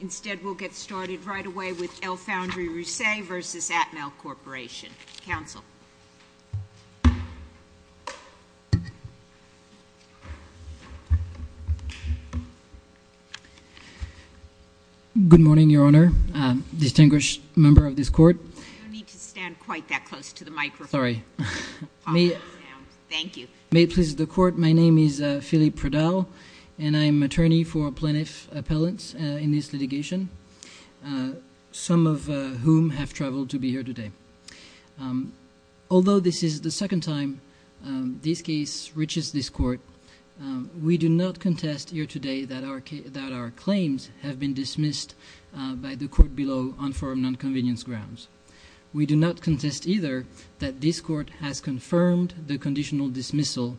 Instead, we'll get started right away with Lfoundry Rousset v. Atmel Corporation. Good morning, Your Honor. Distinguished member of this Court. You don't need to stand quite that close to the microphone. May it please the Court, my name is Philippe Pradal and I am attorney for plaintiff appellants in this litigation, some of whom have traveled to be here today. Although this is the second time this case reaches this Court, we do not contest here today that our claims have been dismissed by the Court below on foreign non-convenience grounds. We do not contest either that this Court has confirmed the conditional dismissal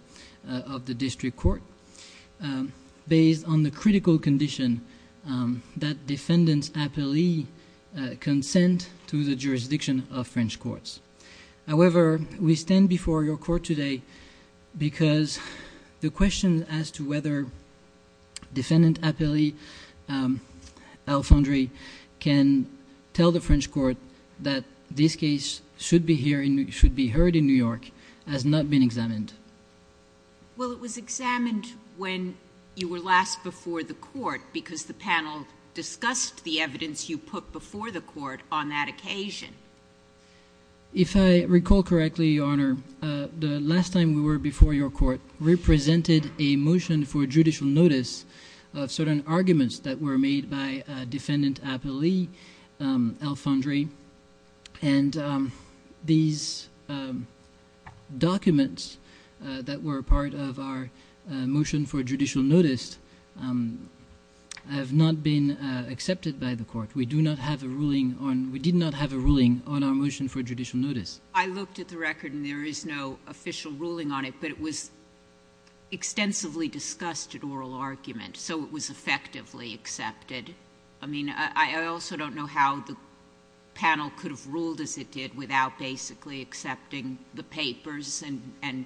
of the district court based on the critical condition that defendants appellee consent to the jurisdiction of French courts. However, we stand before your Court today because the question as to whether defendant appellee Lfoundry can tell the French Court that this case should be heard in New York has not been examined. Well, it was examined when you were last before the Court because the panel discussed the evidence you put before the Court on that occasion. If I recall correctly, Your Honor, the last time we were before your Court represented a motion for judicial notice of certain arguments that were made by defendant appellee Lfoundry and these documents that were part of our motion for judicial notice have not been accepted by the Court. We do not have a ruling on — we did not have a ruling on our motion for judicial notice. I looked at the record and there is no official ruling on it, but it was extensively discussed at oral argument, so it was effectively accepted. I mean, I also don't know how the panel could have ruled as it did without basically accepting the papers and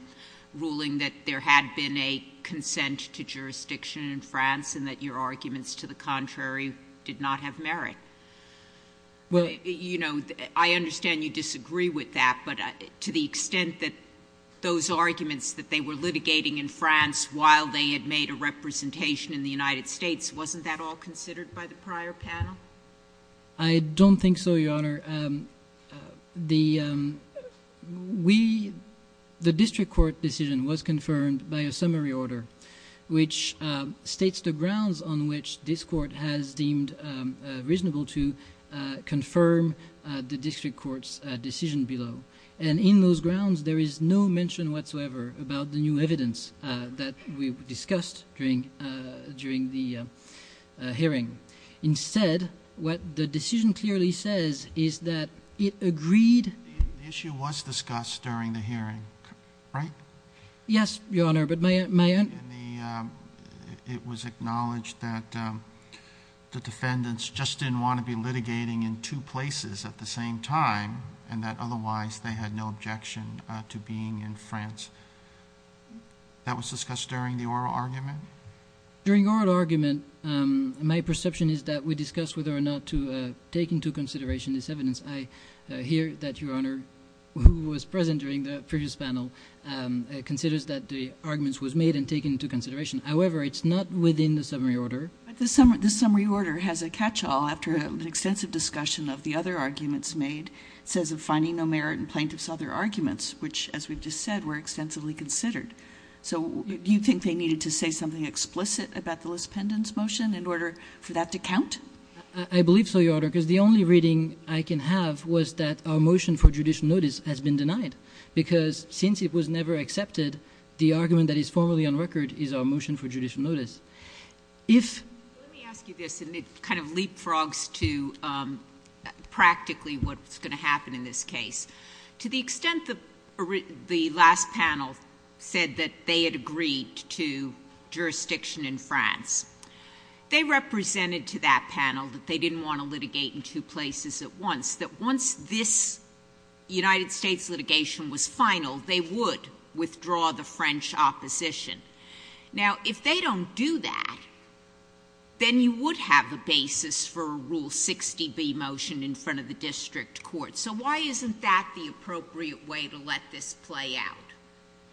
ruling that there had been a consent to jurisdiction in France and that your arguments to the contrary did not have merit. You know, I understand you disagree with that, but to the extent that those arguments that they were litigating in France while they had made a representation in the United States, wasn't that all considered by the prior panel? I don't think so, Your Honor. The district court decision was confirmed by a summary order which states the grounds on which this Court has deemed reasonable to confirm the district court's decision below. And in those grounds, there is no mention whatsoever about the new evidence that we discussed during the hearing. Instead, what the decision clearly says is that it agreed — The issue was discussed during the hearing, right? Yes, Your Honor, but my — It was acknowledged that the defendants just didn't want to be litigating in two places at the same time and that otherwise they had no objection to being in France. That was discussed during the oral argument? During the oral argument, my perception is that we discussed whether or not to take into consideration this evidence. I hear that Your Honor, who was present during the previous panel, considers that the arguments were made and taken into consideration. However, it's not within the summary order. But the summary order has a catch-all after an extensive discussion of the other arguments made. It says, of finding no merit in plaintiff's other arguments, which, as we've just said, were extensively considered. So do you think they needed to say something explicit about the Liz Pendon's motion in order for that to count? I believe so, Your Honor, because the only reading I can have was that our motion for judicial notice has been denied. Because since it was never accepted, the argument that is formally on record is our motion for judicial notice. Let me ask you this, and it kind of leapfrogs to practically what's going to happen in this case. To the extent that the last panel said that they had agreed to jurisdiction in France, they represented to that panel that they didn't want to litigate in two places at once, that once this United States litigation was final, they would withdraw the French opposition. Now, if they don't do that, then you would have a basis for a Rule 60b motion in front of the district court. So why isn't that the appropriate way to let this play out,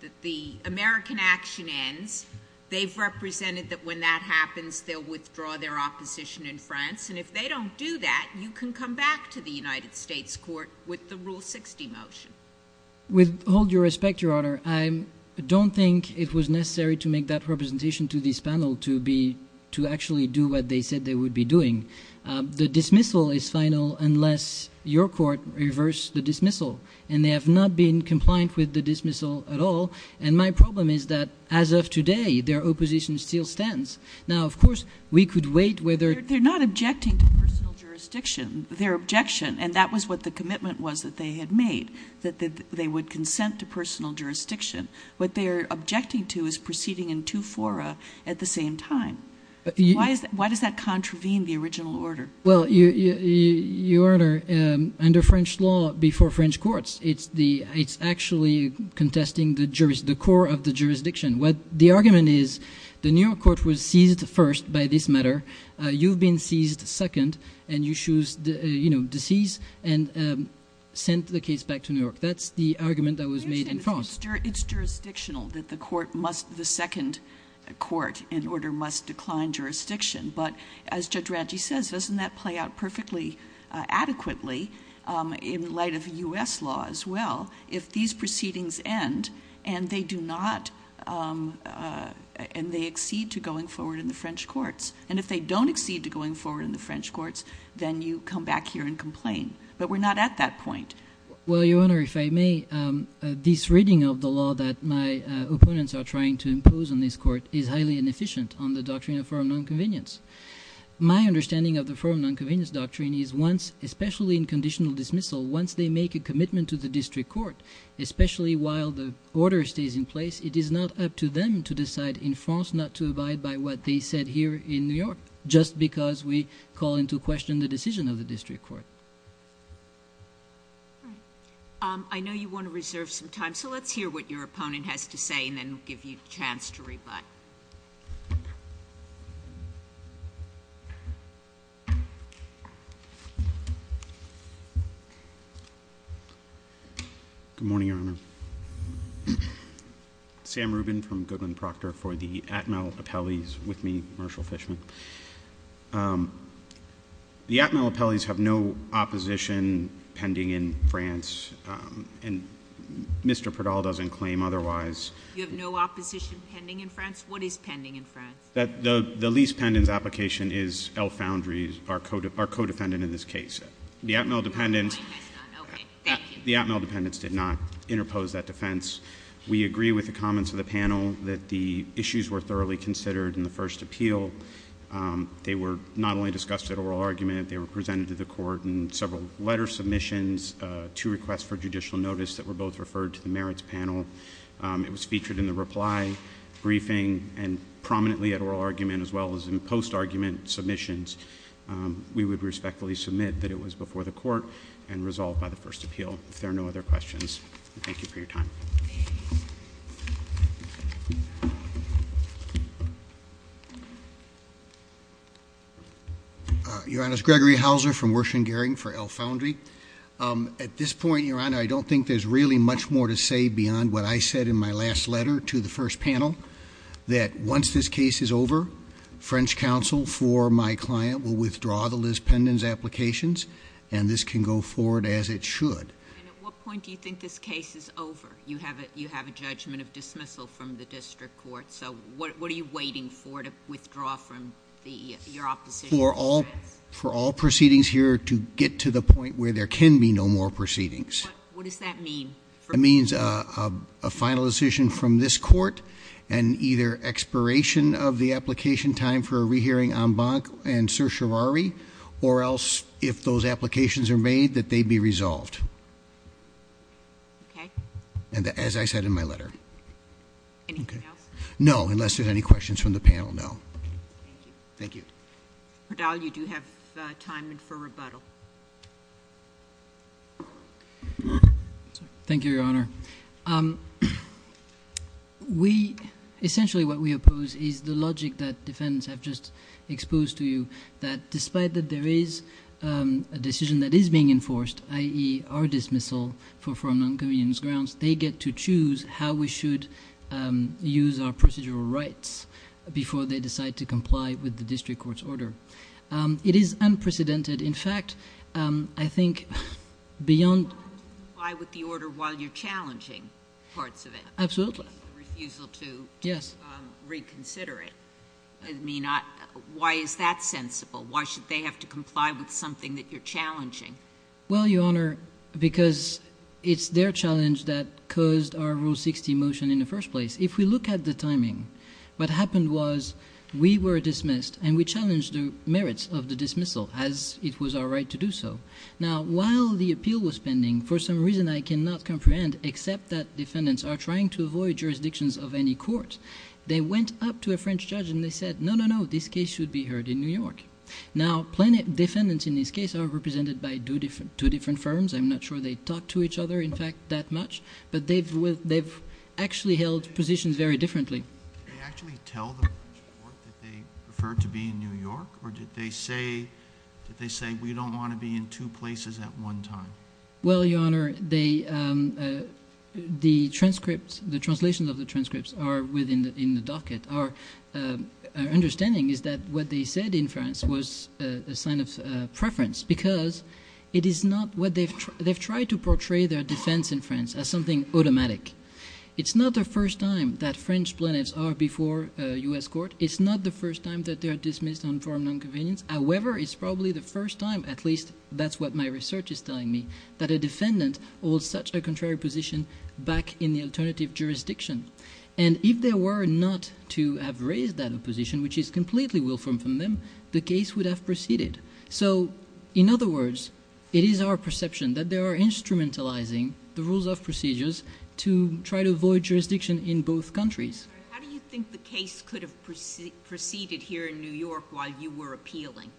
that the American action ends, they've represented that when that happens, they'll withdraw their opposition in France, and if they don't do that, you can come back to the United States court with the Rule 60 motion? With all due respect, Your Honor, I don't think it was necessary to make that representation to this panel to actually do what they said they would be doing. The dismissal is final unless your court reverts the dismissal, and they have not been compliant with the dismissal at all, and my problem is that as of today, their opposition still stands. Now, of course, we could wait whether – They're not objecting to personal jurisdiction. Their objection, and that was what the commitment was that they had made, that they would consent to personal jurisdiction. What they are objecting to is proceeding in two fora at the same time. Why does that contravene the original order? Well, Your Honor, under French law, before French courts, it's actually contesting the core of the jurisdiction. The argument is the New York court was seized first by this matter. You've been seized second, and you choose to seize and send the case back to New York. That's the argument that was made in France. It's jurisdictional that the court must – the second court in order must decline jurisdiction, but as Judge Ranchi says, doesn't that play out perfectly adequately in light of U.S. law as well if these proceedings end and they do not – and they exceed to going forward in the French courts? And if they don't exceed to going forward in the French courts, then you come back here and complain. But we're not at that point. Well, Your Honor, if I may, this reading of the law that my opponents are trying to impose on this court is highly inefficient on the doctrine of firm nonconvenience. My understanding of the firm nonconvenience doctrine is once – especially in conditional dismissal, once they make a commitment to the district court, especially while the order stays in place, it is not up to them to decide in France not to abide by what they said here in New York just because we call into question the decision of the district court. All right. I know you want to reserve some time, so let's hear what your opponent has to say and then we'll give you a chance to rebut. Good morning, Your Honor. Sam Rubin from Goodman Proctor for the Atmel Appellees. With me, Marshal Fishman. The Atmel Appellees have no opposition pending in France, and Mr. Perdal doesn't claim otherwise. You have no opposition pending in France? What is pending in France? The lease pendants application is L. Foundry's, our co-defendant in this case. The Atmel Dependents— My mic has gone. Okay. Thank you. The Atmel Dependents did not interpose that defense. We agree with the comments of the panel that the issues were thoroughly considered in the first appeal. They were not only discussed at oral argument, they were presented to the court in several letter submissions, two requests for judicial notice that were both referred to the merits panel. It was featured in the reply briefing and prominently at oral argument as well as in post-argument submissions. We would respectfully submit that it was before the court and resolved by the first appeal. If there are no other questions, thank you for your time. Your Honor, it's Gregory Houser from Wershengaring for L. Foundry. At this point, Your Honor, I don't think there's really much more to say beyond what I said in my last letter to the first panel, that once this case is over, French counsel for my client will withdraw the Liz Pendon's applications, and this can go forward as it should. And at what point do you think this case is over? You have a judgment of dismissal from the district court, so what are you waiting for to withdraw from your opposition? For all proceedings here to get to the point where there can be no more proceedings. What does that mean? That means a final decision from this court, and either expiration of the application time for a rehearing en banc and certiorari, or else, if those applications are made, that they be resolved. Okay. As I said in my letter. Anything else? No, unless there's any questions from the panel, no. Thank you. Verdal, you do have time for rebuttal. Thank you, Your Honor. Essentially what we oppose is the logic that defendants have just exposed to you, that despite that there is a decision that is being enforced, i.e., our dismissal from non-competent grounds, they get to choose how we should use our procedural rights before they decide to comply with the district court's order. It is unprecedented. In fact, I think beyond... You want them to comply with the order while you're challenging parts of it. Absolutely. The refusal to reconsider it. Why is that sensible? Why should they have to comply with something that you're challenging? Well, Your Honor, because it's their challenge that caused our Rule 60 motion in the first place. If we look at the timing, what happened was we were dismissed and we challenged the merits of the dismissal as it was our right to do so. Now, while the appeal was pending, for some reason I cannot comprehend except that defendants are trying to avoid jurisdictions of any court. They went up to a French judge and they said, no, no, no, this case should be heard in New York. Now, defendants in this case are represented by two different firms. I'm not sure they talk to each other, in fact, that much, but they've actually held positions very differently. Did they actually tell the French court that they preferred to be in New York, or did they say, well, you don't want to be in two places at one time? Well, Your Honor, the transcripts, the translations of the transcripts are within the docket. Our understanding is that what they said in France was a sign of preference because it is not what they've – they've tried to portray their defense in France as something automatic. It's not the first time that French plaintiffs are before a U.S. court. It's not the first time that they are dismissed on form of nonconvenience. However, it's probably the first time, at least that's what my research is telling me, that a defendant holds such a contrary position back in the alternative jurisdiction. And if there were not to have raised that opposition, which is completely willful from them, the case would have proceeded. So in other words, it is our perception that they are instrumentalizing the rules of procedures to try to avoid jurisdiction in both countries. How do you think the case could have proceeded here in New York while you were appealing?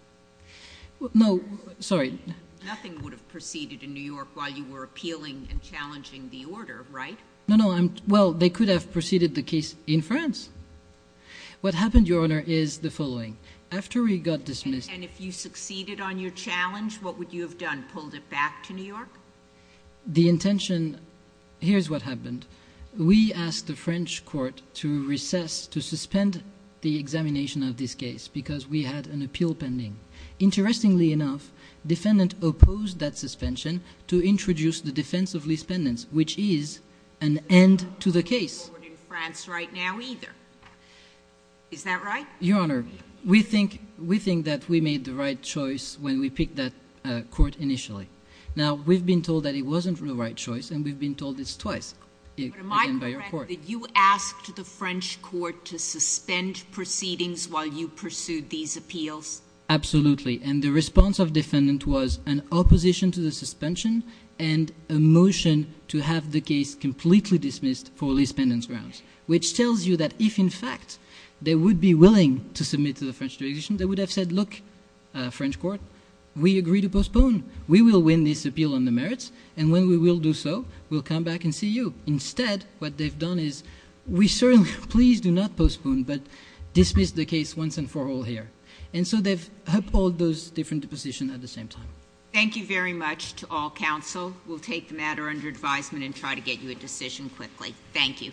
No, sorry. Nothing would have proceeded in New York while you were appealing and challenging the order, right? No, no. Well, they could have proceeded the case in France. What happened, Your Honor, is the following. After we got dismissed – And if you succeeded on your challenge, what would you have done? Pulled it back to New York? The intention – here's what happened. We asked the French court to recess, to suspend the examination of this case because we had an appeal pending. Interestingly enough, the defendant opposed that suspension to introduce the defense of lease pendants, which is an end to the case. …in France right now either. Is that right? Your Honor, we think that we made the right choice when we picked that court initially. Now, we've been told that it wasn't the right choice, and we've been told this twice. But am I correct that you asked the French court to suspend proceedings while you pursued these appeals? Absolutely. And the response of the defendant was an opposition to the suspension and a motion to have the case completely dismissed for lease pendants grounds, which tells you that if, in fact, they would be willing to submit to the French jurisdiction, they would have said, Look, French court, we agree to postpone. We will win this appeal on the merits, and when we will do so, we'll come back and see you. Instead, what they've done is we certainly – please do not postpone, but dismiss the case once and for all here. And so they've held all those different positions at the same time. Thank you very much to all counsel. We'll take the matter under advisement and try to get you a decision quickly. Thank you.